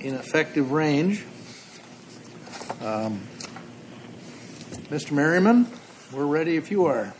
In effective range, Mr. Merriman, we're ready if you are.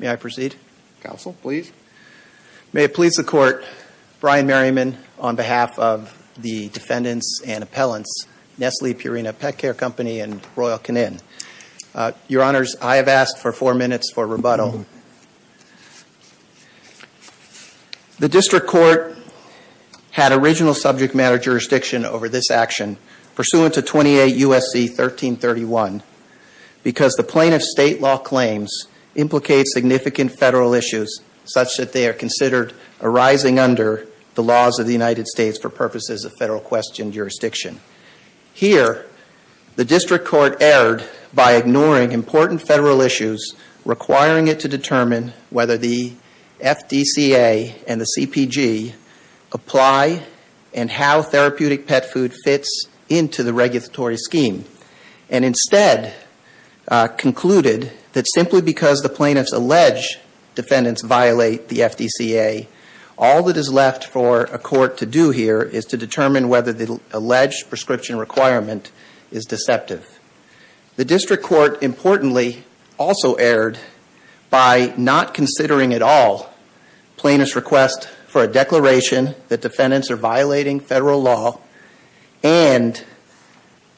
May I proceed? Counsel, please. May it please the Court, Brian Merriman on behalf of the defendants and appellants, Nestle Purina Pet Care Company and Royal Canin. Your Honors, I have asked for four minutes for rebuttal. The District Court had original subject matter jurisdiction over this action, pursuant to 28 U.S.C. 1331, because the plaintiff's state law claims implicate significant federal issues, such that they are considered arising under the laws of the United States for purposes of federal question jurisdiction. Here, the District Court erred by ignoring important federal issues requiring it to determine whether the FDCA and the CPG apply and how therapeutic pet food fits into the regulatory scheme, and instead concluded that simply because the plaintiff's alleged defendants violate the FDCA, all that is left for a court to do here is to determine whether the alleged prescription requirement is deceptive. The District Court, importantly, also erred by not considering at all plaintiff's request for a declaration that defendants are violating federal law and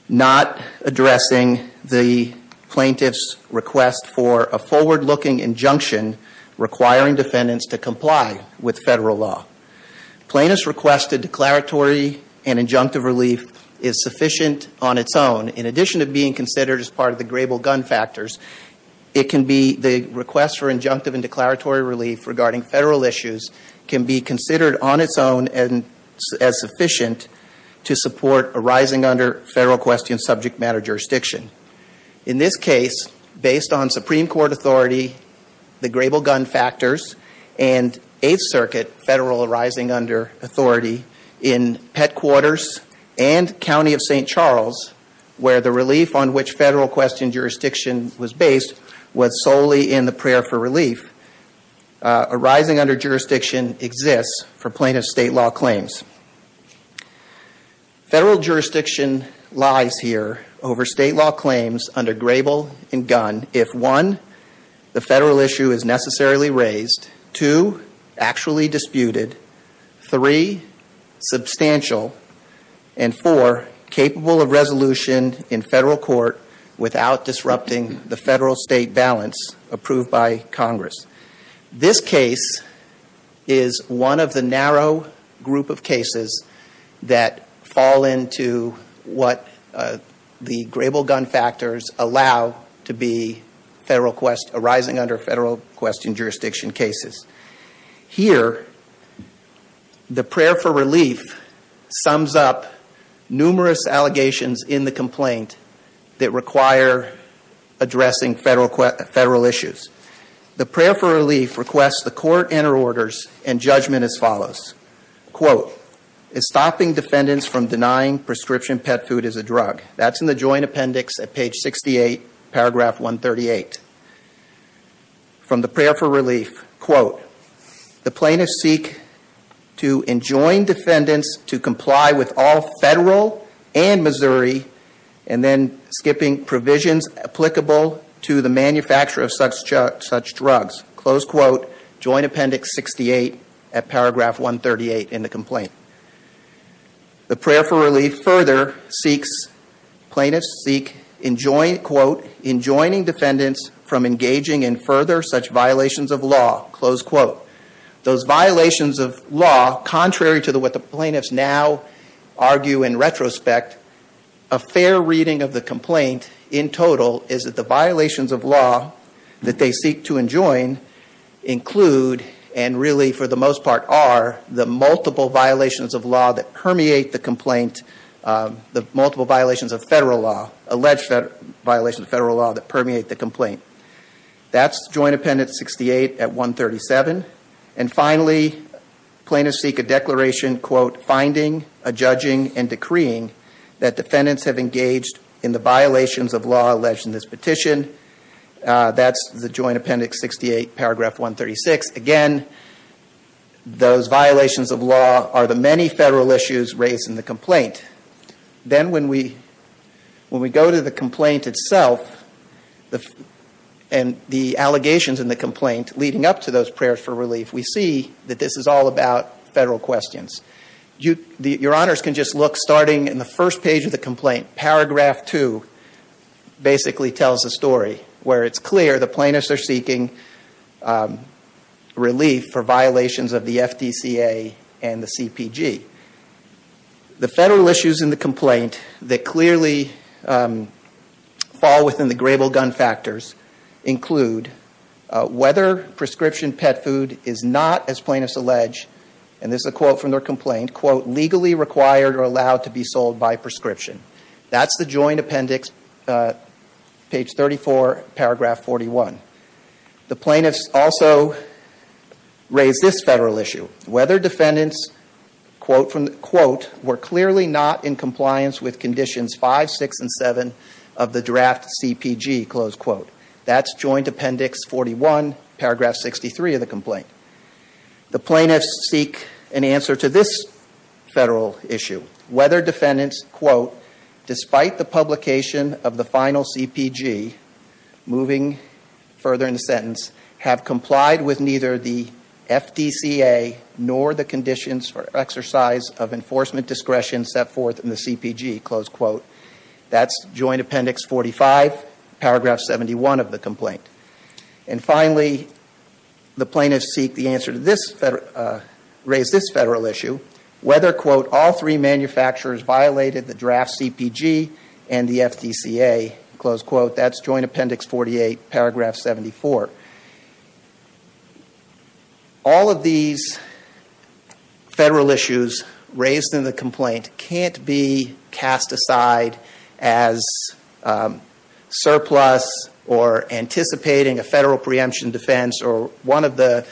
not addressing the plaintiff's request for a forward-looking injunction requiring defendants to comply with federal law. Plaintiff's request to declaratory and injunctive relief is sufficient on its own. In addition to being considered as part of the grable gun factors, it can be the request for injunctive and declaratory relief regarding federal issues can be considered on its own as sufficient to support arising under federal question subject matter jurisdiction. In this case, based on Supreme Court authority, the grable gun factors, and Eighth Circuit federal arising under authority in Pet Quarters and County of St. Charles, where the relief on which federal question jurisdiction was based was solely in the prayer for relief, arising under jurisdiction exists for plaintiff's state law claims. Federal jurisdiction lies here over state law claims under grable and gun if, one, the federal issue is necessarily raised, two, actually disputed, three, substantial, and four, capable of resolution in federal court without disrupting the federal-state balance approved by Congress. This case is one of the narrow group of cases that fall into what the grable gun factors allow to be arising under federal question jurisdiction cases. Here, the prayer for relief sums up numerous allegations in the complaint that require addressing federal issues. The prayer for relief requests the court enter orders and judgment as follows. Quote, is stopping defendants from denying prescription pet food as a drug. That's in the joint appendix at page 68, paragraph 138. From the prayer for relief, quote, the plaintiffs seek to enjoin defendants to comply with all federal and Missouri and then skipping provisions applicable to the manufacture of such drugs. Close quote, joint appendix 68 at paragraph 138 in the complaint. The prayer for relief further seeks, plaintiffs seek, quote, enjoining defendants from engaging in further such violations of law. Close quote. Those violations of law, contrary to what the plaintiffs now argue in retrospect, a fair reading of the complaint in total is that the violations of law that they seek to enjoin include, and really for the most part are, the multiple violations of law that permeate the complaint, the multiple violations of federal law, alleged violations of federal law that permeate the complaint. That's joint appendix 68 at 137. And finally, plaintiffs seek a declaration, quote, finding, adjudging, and decreeing that defendants have engaged in the violations of law alleged in this petition. That's the joint appendix 68, paragraph 136. Again, those violations of law are the many federal issues raised in the complaint. Then when we go to the complaint itself and the allegations in the complaint leading up to those prayers for relief, we see that this is all about federal questions. Your honors can just look, starting in the first page of the complaint, paragraph 2 basically tells the story where it's clear the plaintiffs are seeking relief for violations of the FDCA and the CPG. The federal issues in the complaint that clearly fall within the grable gun factors include whether prescription pet food is not, as plaintiffs allege, and this is a quote from their complaint, quote, legally required or allowed to be sold by prescription. That's the joint appendix, page 34, paragraph 41. The plaintiffs also raise this federal issue, whether defendants, quote, were clearly not in compliance with conditions 5, 6, and 7 of the draft CPG, close quote. That's joint appendix 41, paragraph 63 of the complaint. The plaintiffs seek an answer to this federal issue, whether defendants, quote, despite the publication of the final CPG, moving further in the sentence, have complied with neither the FDCA nor the conditions for exercise of enforcement discretion set forth in the CPG, close quote. That's joint appendix 45, paragraph 71 of the complaint. And finally, the plaintiffs seek the answer to this, raise this federal issue, whether, quote, all three manufacturers violated the draft CPG and the FDCA, close quote. That's joint appendix 48, paragraph 74. All of these federal issues raised in the complaint can't be cast aside as surplus or anticipating a federal preemption defense or one of the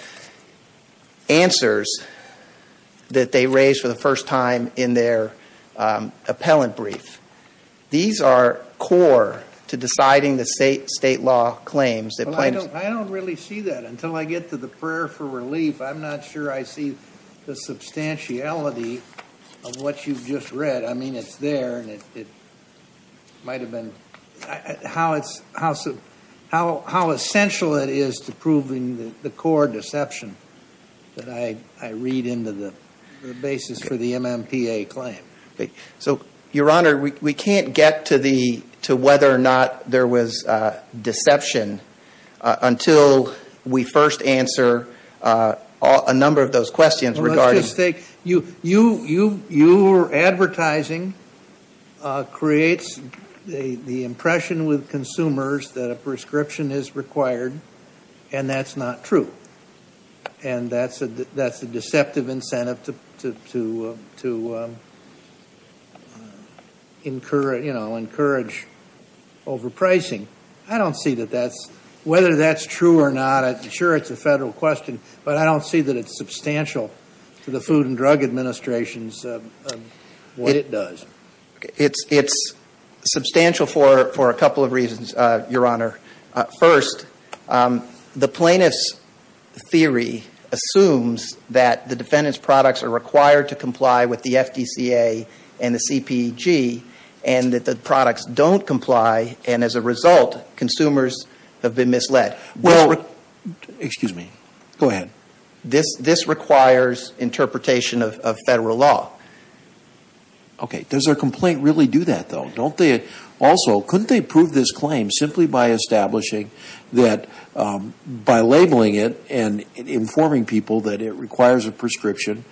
answers that they raised for the first time in their appellant brief. These are core to deciding the state law claims that plaintiffs- I don't really see that until I get to the prayer for relief. I'm not sure I see the substantiality of what you've just read. I mean, it's there, and it might have been- how essential it is to proving the core deception that I read into the basis for the MMPA claim. So, Your Honor, we can't get to whether or not there was deception until we first answer a number of those questions regarding- Well, let's just take- your advertising creates the impression with consumers that a prescription is required, and that's not true. And that's a deceptive incentive to encourage overpricing. I don't see that that's- whether that's true or not, I'm sure it's a federal question, but I don't see that it's substantial to the Food and Drug Administration's- It does. It's substantial for a couple of reasons, Your Honor. First, the plaintiff's theory assumes that the defendant's products are required to comply with the FDCA and the CPEG, and that the products don't comply, and as a result, consumers have been misled. Well- Excuse me. Go ahead. This requires interpretation of federal law. Okay. Does their complaint really do that, though? Also, couldn't they prove this claim simply by establishing that- by labeling it and informing people that it requires a prescription,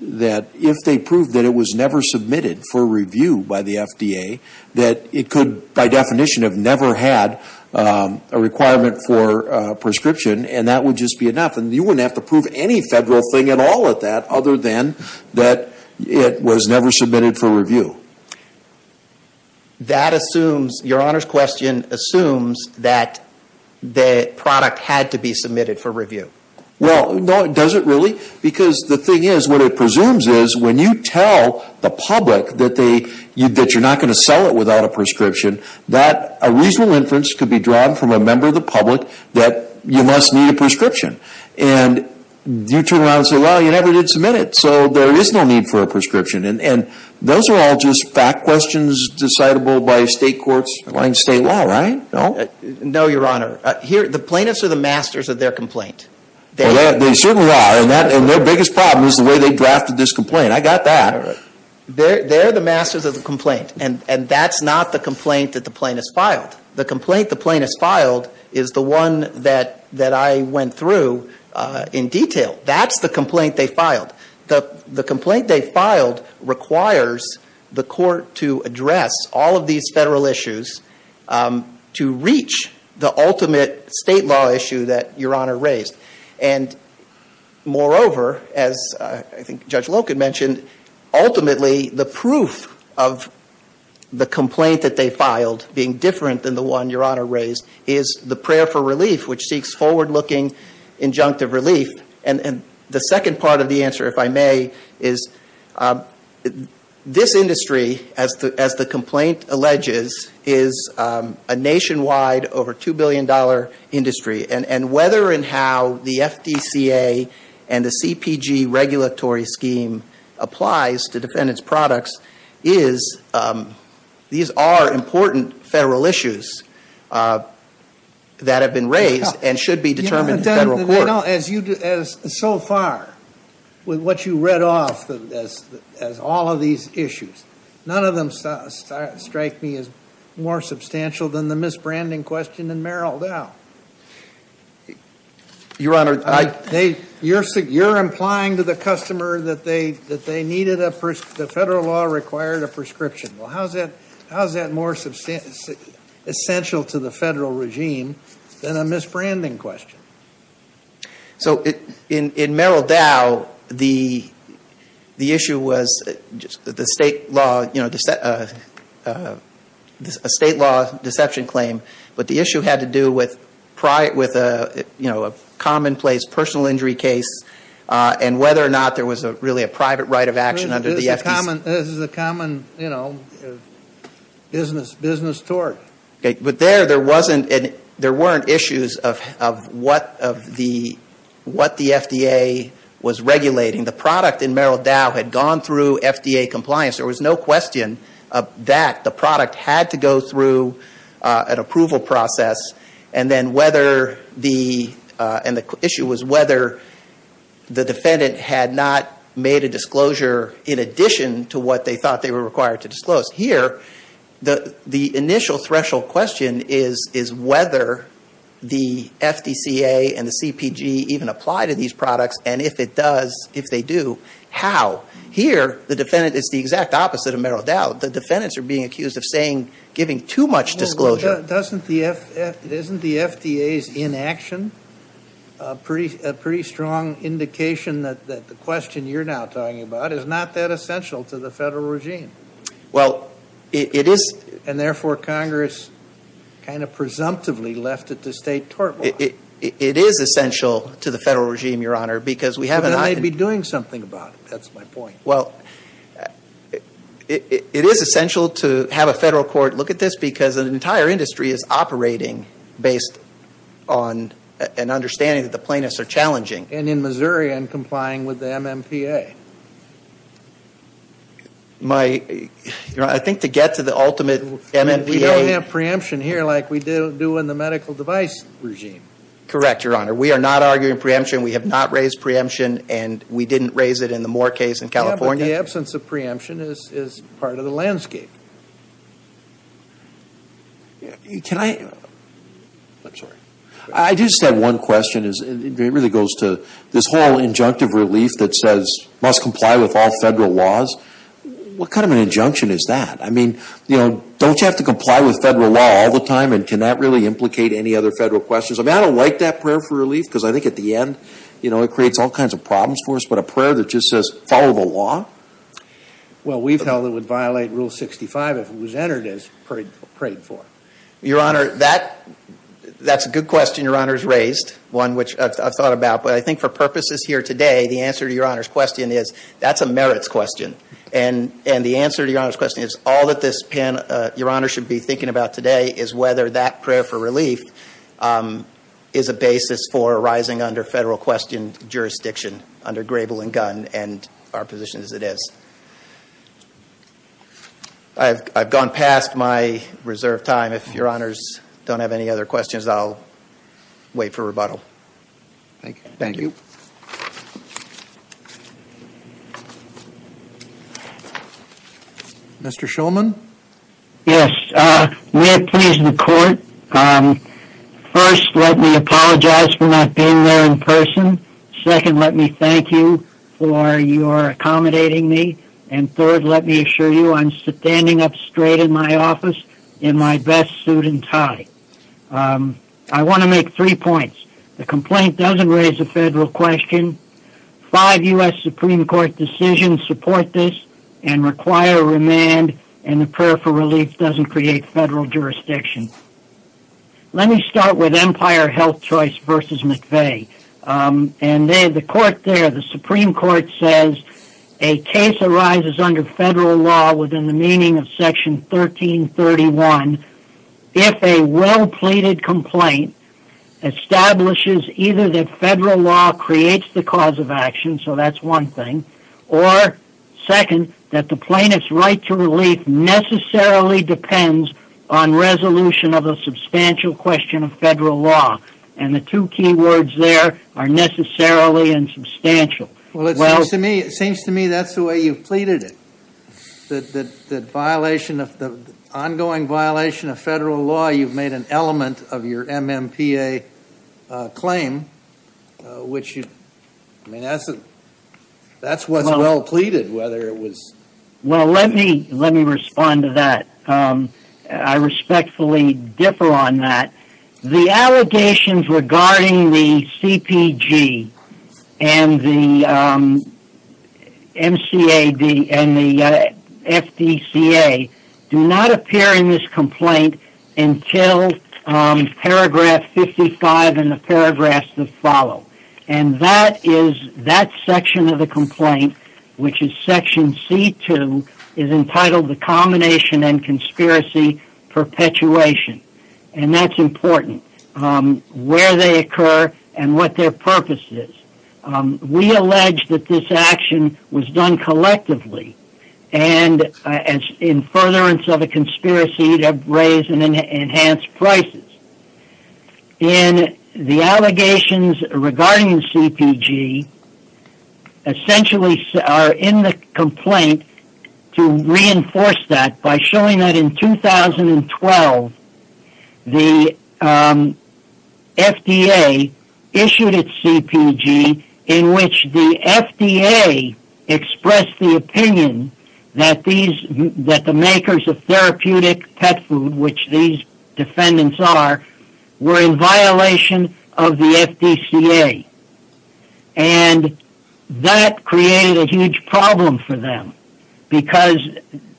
that if they proved that it was never submitted for review by the FDA, that it could, by definition, have never had a requirement for a prescription, and that would just be enough. And you wouldn't have to prove any federal thing at all at that other than that it was never submitted for review. That assumes- Your Honor's question assumes that the product had to be submitted for review. Well, no, it doesn't really, because the thing is, what it presumes is, when you tell the public that they- that you're not going to sell it without a prescription, that a reasonable inference could be drawn from a member of the public that you must need a prescription. And you turn around and say, well, you never did submit it, so there is no need for a prescription. And those are all just fact questions decidable by state courts, in state law, right? No? No, Your Honor. Here, the plaintiffs are the masters of their complaint. They certainly are, and their biggest problem is the way they drafted this complaint. I got that. They're the masters of the complaint, and that's not the complaint that the plaintiffs filed. The complaint the plaintiffs filed is the one that I went through in detail. That's the complaint they filed. The complaint they filed requires the court to address all of these federal issues to reach the ultimate state law issue that Your Honor raised. And moreover, as I think Judge Loken mentioned, ultimately the proof of the complaint that they filed being different than the one Your Honor raised is the prayer for relief, which seeks forward-looking injunctive relief. And the second part of the answer, if I may, is this industry, as the complaint alleges, is a nationwide, over $2 billion industry. And whether and how the FDCA and the CPG regulatory scheme applies to defendant's products is, these are important federal issues that have been raised and should be determined in federal court. So far, with what you read off as all of these issues, none of them strike me as more substantial than the misbranding question in Merrill Dow. Your Honor, you're implying to the customer that the federal law required a prescription. Well, how is that more essential to the federal regime than a misbranding question? So in Merrill Dow, the issue was a state law deception claim, but the issue had to do with a commonplace personal injury case and whether or not there was really a private right of action under the FDCA. This is a common business tort. But there, there weren't issues of what the FDA was regulating. The product in Merrill Dow had gone through FDA compliance. There was no question that the product had to go through an approval process. And the issue was whether the defendant had not made a disclosure in addition to what they thought they were required to disclose. Here, the initial threshold question is whether the FDCA and the CPG even apply to these products. And if it does, if they do, how? Here, the defendant is the exact opposite of Merrill Dow. The defendants are being accused of saying, giving too much disclosure. Doesn't the FDA's inaction, a pretty strong indication that the question you're now talking about is not that essential to the federal regime? Well, it is. And therefore, Congress kind of presumptively left it to state tort law. It is essential to the federal regime, Your Honor, because we haven't. But they may be doing something about it. That's my point. Well, it is essential to have a federal court look at this because an entire industry is operating based on an understanding that the plaintiffs are challenging. And in Missouri, I'm complying with the MMPA. My, Your Honor, I think to get to the ultimate MMPA. We don't have preemption here like we do in the medical device regime. Correct, Your Honor. We are not arguing preemption. We have not raised preemption. And we didn't raise it in the Moore case in California. Yeah, but the absence of preemption is part of the landscape. Can I? I'm sorry. I just have one question. It really goes to this whole injunctive relief that says must comply with all federal laws. What kind of an injunction is that? I mean, you know, don't you have to comply with federal law all the time? And can that really implicate any other federal questions? I mean, I don't like that prayer for relief because I think at the end, you know, it creates all kinds of problems for us. But a prayer that just says follow the law? Well, we've held it would violate Rule 65 if it was entered as prayed for. Your Honor, that's a good question Your Honor has raised, one which I've thought about. But I think for purposes here today, the answer to Your Honor's question is that's a merits question. And the answer to Your Honor's question is all that this panel, Your Honor should be thinking about today, is whether that prayer for relief is a basis for arising under federal question jurisdiction, under grable and gun and our position as it is. I've gone past my reserved time. If Your Honors don't have any other questions, I'll wait for rebuttal. Thank you. Mr. Shulman? Yes, may it please the Court, first, let me apologize for not being there in person. Second, let me thank you for your accommodating me. And third, let me assure you I'm standing up straight in my office in my best suit and tie. I want to make three points. The complaint doesn't raise a federal question. Five U.S. Supreme Court decisions support this and require remand. And the prayer for relief doesn't create federal jurisdiction. Let me start with Empire Health Choice v. McVeigh. And the Supreme Court says a case arises under federal law within the meaning of Section 1331 if a well-pleaded complaint establishes either that federal law creates the cause of action, so that's one thing, or, second, that the plaintiff's right to relief necessarily depends on resolution of a substantial question of federal law. And the two key words there are necessarily and substantial. Well, it seems to me that's the way you've pleaded it, that the ongoing violation of federal law, you've made an element of your MMPA claim, which, I mean, that's what's well-pleaded, whether it was... Well, let me respond to that. I respectfully differ on that. The allegations regarding the CPG and the MCAD and the FDCA do not appear in this complaint until Paragraph 55 and the paragraphs that follow. And that is, that section of the complaint, which is Section C2, is entitled the Combination and Conspiracy Perpetuation. And that's important, where they occur and what their purpose is. We allege that this action was done collectively and in furtherance of a conspiracy to raise and enhance prices. And the allegations regarding the CPG essentially are in the complaint to reinforce that by showing that in 2012, the FDA issued its CPG in which the FDA expressed the opinion that the makers of therapeutic pet food, which these defendants are, were in violation of the FDCA. And that created a huge problem for them because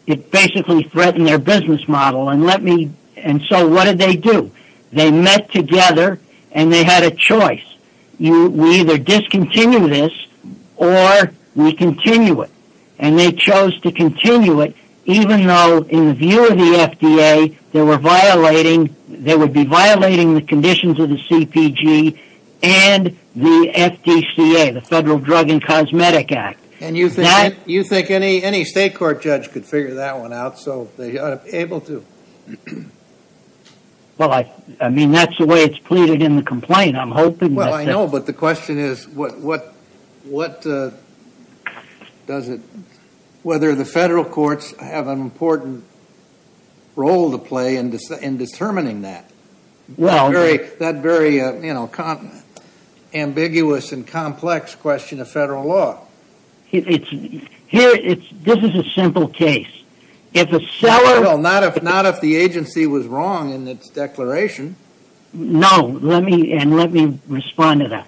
it basically threatened their business model. And so what did they do? They met together and they had a choice. We either discontinue this or we continue it. And they chose to continue it even though, in the view of the FDA, they would be violating the conditions of the CPG and the FDCA, the Federal Drug and Cosmetic Act. And you think any state court judge could figure that one out, so they ought to be able to. Well, I mean, that's the way it's pleaded in the complaint. I'm hoping that's it. Well, I know, but the question is what does it, whether the federal courts have an important role to play in determining that. That's a very ambiguous and complex question of federal law. This is a simple case. Not if the agency was wrong in its declaration. No, and let me respond to that.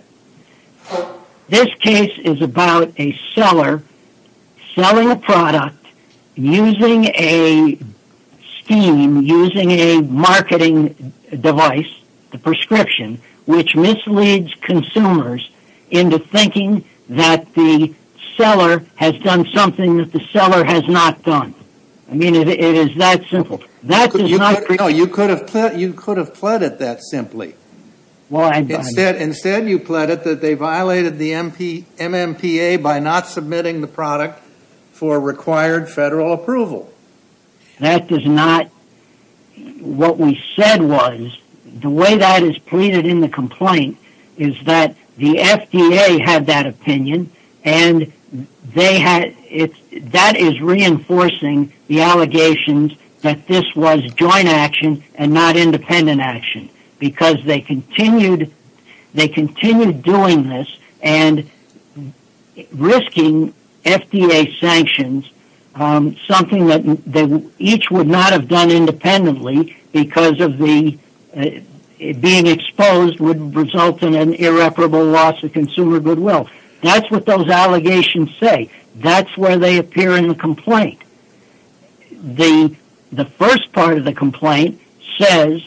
This case is about a seller selling a product using a scheme, using a marketing device, a prescription, which misleads consumers into thinking that the seller has done something that the seller has not done. I mean, it is that simple. You could have pleaded that simply. Instead, you pleaded that they violated the MMPA by not submitting the product for required federal approval. That is not what we said was. The way that is pleaded in the complaint is that the FDA had that opinion, and that is reinforcing the allegations that this was joint action and not independent action, because they continued doing this and risking FDA sanctions, something that each would not have done independently because of being exposed would result in an irreparable loss of consumer goodwill. That's what those allegations say. That's where they appear in the complaint. The first part of the complaint says,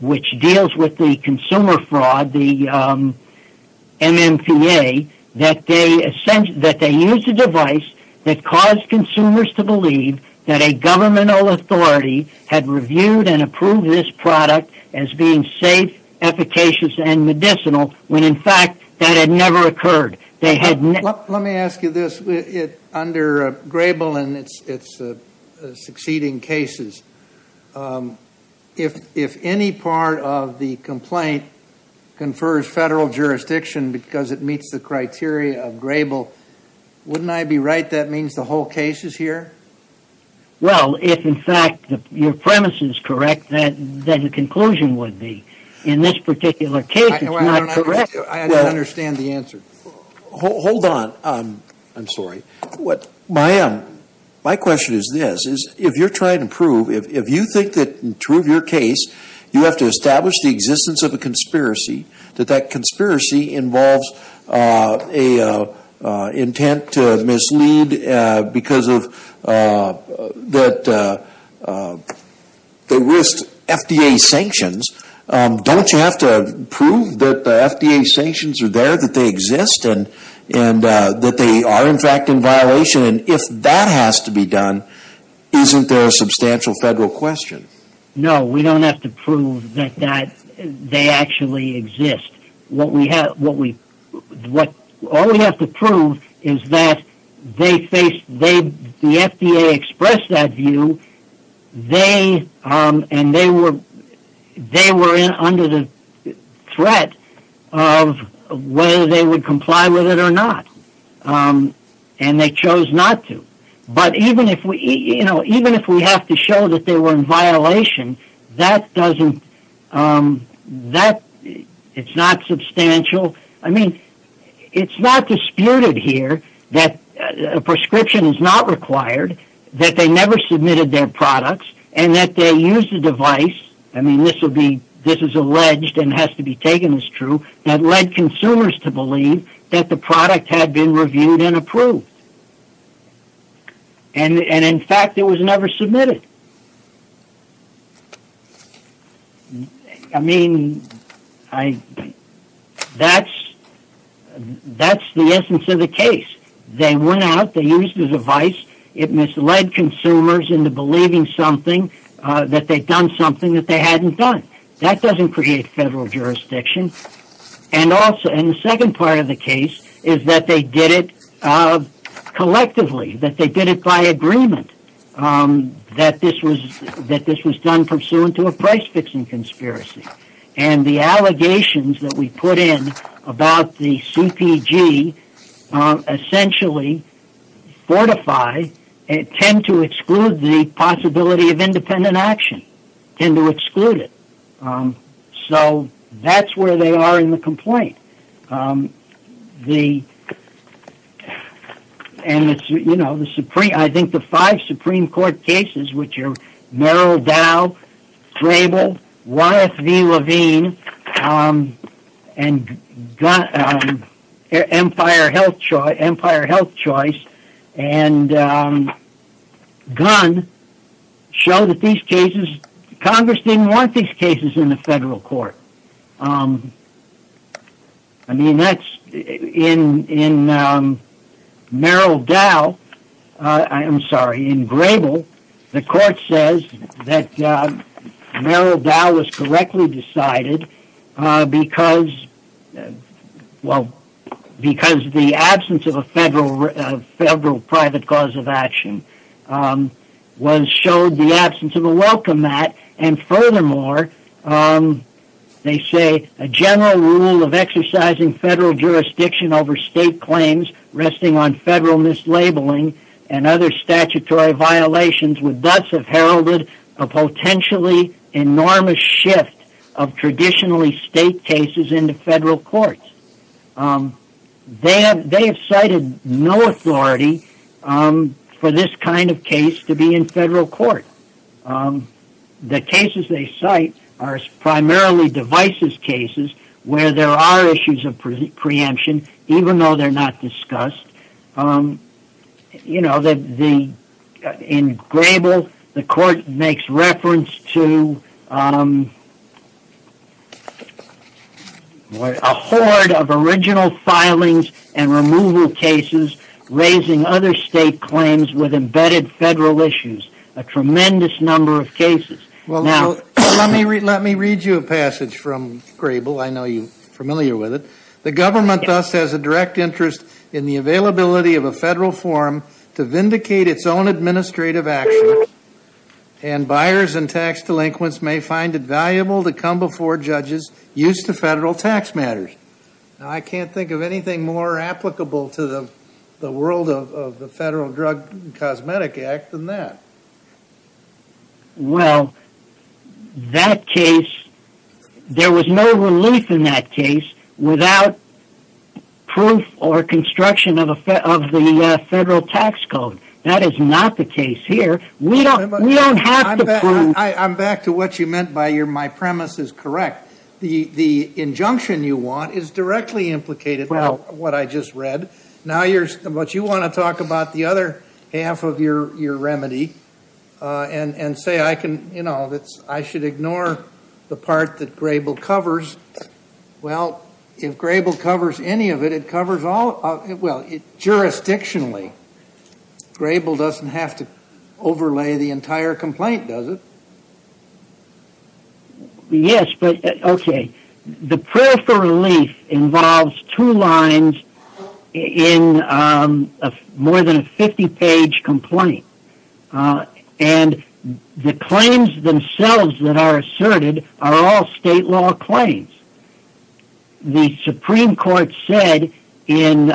which deals with the consumer fraud, the MMPA, that they used a device that caused consumers to believe that a governmental authority had reviewed and approved this product as being safe, efficacious, and medicinal, when, in fact, that had never occurred. Let me ask you this. Under Grable and its succeeding cases, if any part of the complaint confers federal jurisdiction because it meets the criteria of Grable, wouldn't I be right that means the whole case is here? Well, if, in fact, your premise is correct, then the conclusion would be, in this particular case, it's not correct. I don't understand the answer. Hold on. I'm sorry. My question is this. If you're trying to prove, if you think that, to prove your case, you have to establish the existence of a conspiracy, that that conspiracy involves an intent to mislead because they risked FDA sanctions, don't you have to prove that the FDA sanctions are there, that they exist, and that they are, in fact, in violation? And if that has to be done, isn't there a substantial federal question? No, we don't have to prove that they actually exist. All we have to prove is that they faced, the FDA expressed that view, and they were under the threat of whether they would comply with it or not, and they chose not to. But even if we have to show that they were in violation, that doesn't, it's not substantial. I mean, it's not disputed here that a prescription is not required, that they never submitted their products, and that they used the device, I mean, this is alleged and has to be taken as true, that led consumers to believe that the product had been reviewed and approved. And, in fact, it was never submitted. I mean, that's the essence of the case. They went out, they used the device, it misled consumers into believing something, that they'd done something that they hadn't done. That doesn't create federal jurisdiction. And the second part of the case is that they did it collectively, that they did it by agreement, that this was done pursuant to a price-fixing conspiracy. And the allegations that we put in about the CPG essentially fortify and tend to exclude the possibility of independent action, tend to exclude it. So that's where they are in the complaint. And, you know, I think the five Supreme Court cases, which are Merrill Dow, Grable, YFV Levine, and Empire Health Choice, and Gunn show that these cases, Congress didn't want these cases in the federal court. I mean, that's in Merrill Dow, I'm sorry, in Grable, the court says that Merrill Dow was correctly decided because, well, because the absence of a federal private cause of action showed the absence of a welcome mat, and furthermore, they say a general rule of exercising federal jurisdiction over state claims resting on federal mislabeling and other statutory violations would thus have heralded a potentially enormous shift of traditionally state cases into federal courts. They have cited no authority for this kind of case to be in federal court. The cases they cite are primarily devices cases where there are issues of preemption, even though they're not discussed. You know, in Grable, the court makes reference to a horde of original filings and removal cases raising other state claims with embedded federal issues. A tremendous number of cases. Let me read you a passage from Grable. I know you're familiar with it. The government thus has a direct interest in the availability of a federal forum to vindicate its own administrative actions, and buyers and tax delinquents may find it valuable to come before judges used to federal tax matters. I can't think of anything more applicable to the world of the Federal Drug and Cosmetic Act than that. Well, that case, there was no relief in that case without proof or construction of the federal tax code. That is not the case here. We don't have to prove... I'm back to what you meant by my premise is correct. The injunction you want is directly implicated in what I just read. Now you want to talk about the other half of your remedy and say I should ignore the part that Grable covers. Well, if Grable covers any of it, it covers all... Well, jurisdictionally, Grable doesn't have to overlay the entire complaint, does it? Yes, but, okay. The prayer for relief involves two lines in more than a 50-page complaint. And the claims themselves that are asserted are all state law claims. The Supreme Court said in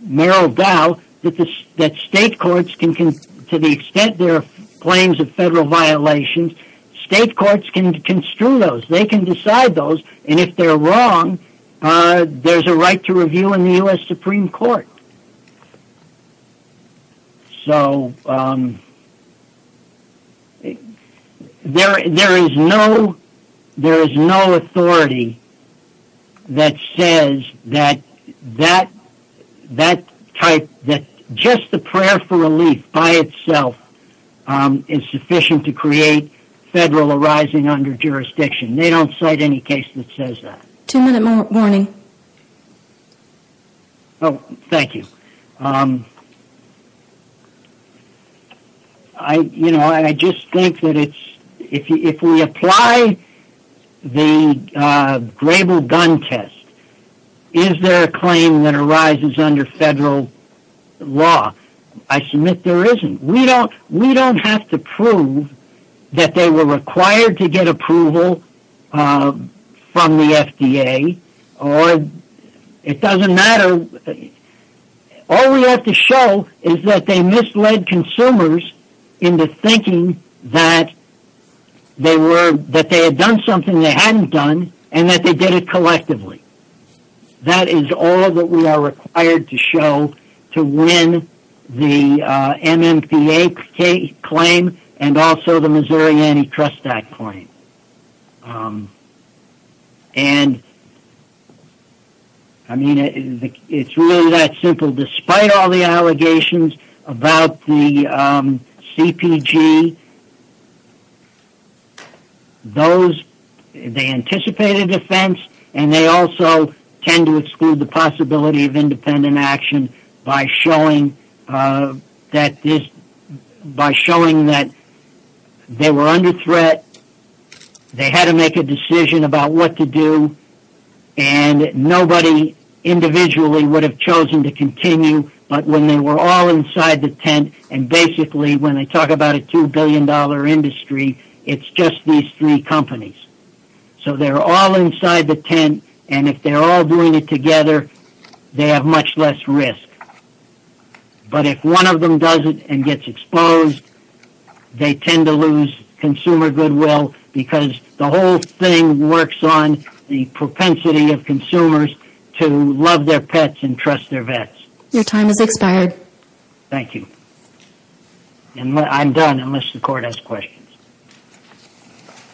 Merrill Dow that state courts can, to the extent there are claims of federal violations, state courts can construe those. They can decide those, and if they're wrong, there's a right to review in the U.S. Supreme Court. So, there is no authority that says that that type, that just the prayer for relief by itself is sufficient to create federal arising under jurisdiction. They don't cite any case that says that. Two-minute warning. Oh, thank you. I just think that if we apply the Grable gun test, is there a claim that arises under federal law? I submit there isn't. We don't have to prove that they were required to get approval from the FDA, or it doesn't matter. All we have to show is that they misled consumers into thinking that they were, that they had done something they hadn't done, and that they did it collectively. That is all that we are required to show to win the MMPA claim and also the Missouri Antitrust Act claim. And, I mean, it's really that simple. Despite all the allegations about the CPG, those, they anticipate a defense, and they also tend to exclude the possibility of independent action by showing that they were under threat, they had to make a decision about what to do, and nobody individually would have chosen to continue, but when they were all inside the tent, and basically when they talk about a $2 billion industry, it's just these three companies. So they're all inside the tent, and if they're all doing it together, they have much less risk. But if one of them does it and gets exposed, they tend to lose consumer goodwill, because the whole thing works on the propensity of consumers to love their pets and trust their vets. Your time has expired. Thank you. And I'm done unless the Court has questions.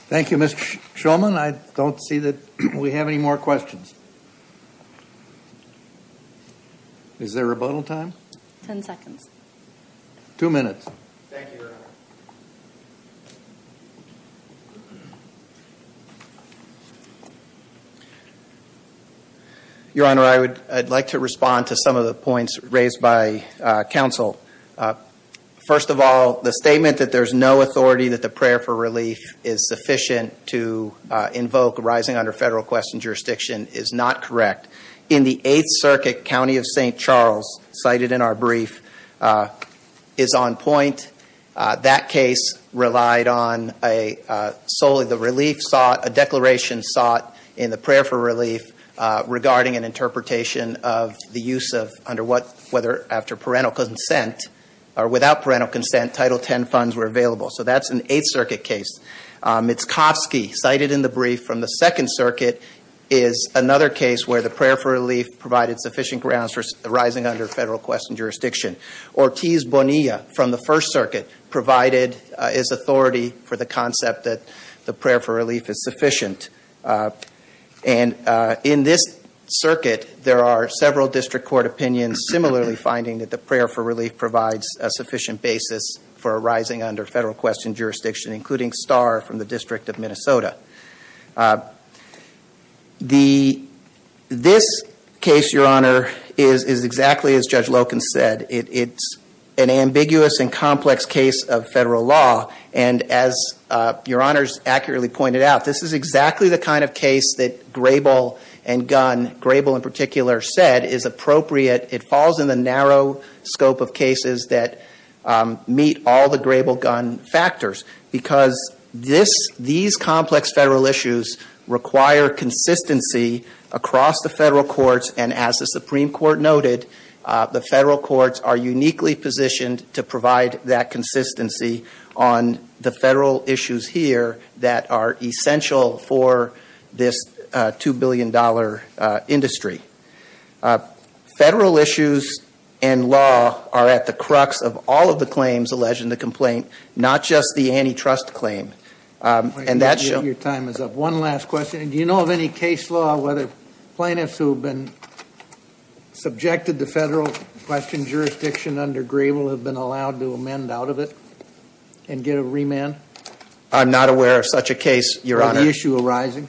Thank you, Mr. Shulman. I don't see that we have any more questions. Is there a rebuttal time? Two minutes. Thank you, Your Honor. Your Honor, I'd like to respond to some of the points raised by counsel. First of all, the statement that there's no authority, that the prayer for relief is sufficient to invoke rising under federal question jurisdiction is not correct. In the Eighth Circuit, County of St. Charles, cited in our brief, is on point. That case relied on solely the relief sought, a declaration sought in the prayer for relief, regarding an interpretation of the use of, whether after parental consent or without parental consent, Title X funds were available. So that's an Eighth Circuit case. Mitskovsky, cited in the brief from the Second Circuit, is another case where the prayer for relief provided sufficient grounds for rising under federal question jurisdiction. Ortiz Bonilla, from the First Circuit, provided as authority for the concept that the prayer for relief is sufficient. And in this circuit, there are several district court opinions, similarly finding that the prayer for relief provides a sufficient basis for a rising under federal question jurisdiction, including Starr from the District of Minnesota. This case, Your Honor, is exactly as Judge Loken said. It's an ambiguous and complex case of federal law. And as Your Honor's accurately pointed out, this is exactly the kind of case that Grable and Gunn, Grable in particular, said is appropriate. It falls in the narrow scope of cases that meet all the Grable-Gunn factors. Because these complex federal issues require consistency across the federal courts, and as the Supreme Court noted, the federal courts are uniquely positioned to provide that consistency on the federal issues here that are essential for this $2 billion industry. Federal issues and law are at the crux of all of the claims alleged in the complaint, not just the antitrust claim. Your time is up. One last question. Do you know of any case law whether plaintiffs who have been subjected to federal question jurisdiction under Grable have been allowed to amend out of it and get a remand? I'm not aware of such a case, Your Honor. Or the issue arising?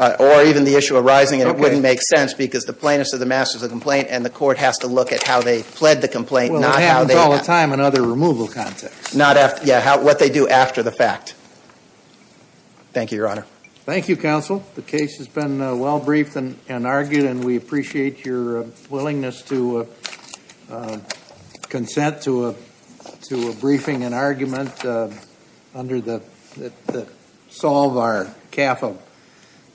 Or even the issue arising, and it wouldn't make sense, because the plaintiffs are the masters of the complaint, and the court has to look at how they pled the complaint, not how they— Well, it happens all the time in other removal contexts. Yeah, what they do after the fact. Thank you, Your Honor. Thank you, counsel. The case has been well briefed and argued, and we appreciate your willingness to consent to a briefing and argument that solve our cap of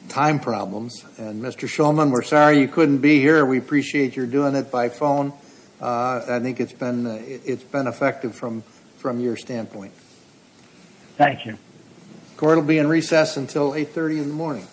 time problems. And, Mr. Shulman, we're sorry you couldn't be here. We appreciate your doing it by phone. I think it's been effective from your standpoint. Thank you. Court will be in recess until 8.30 in the morning.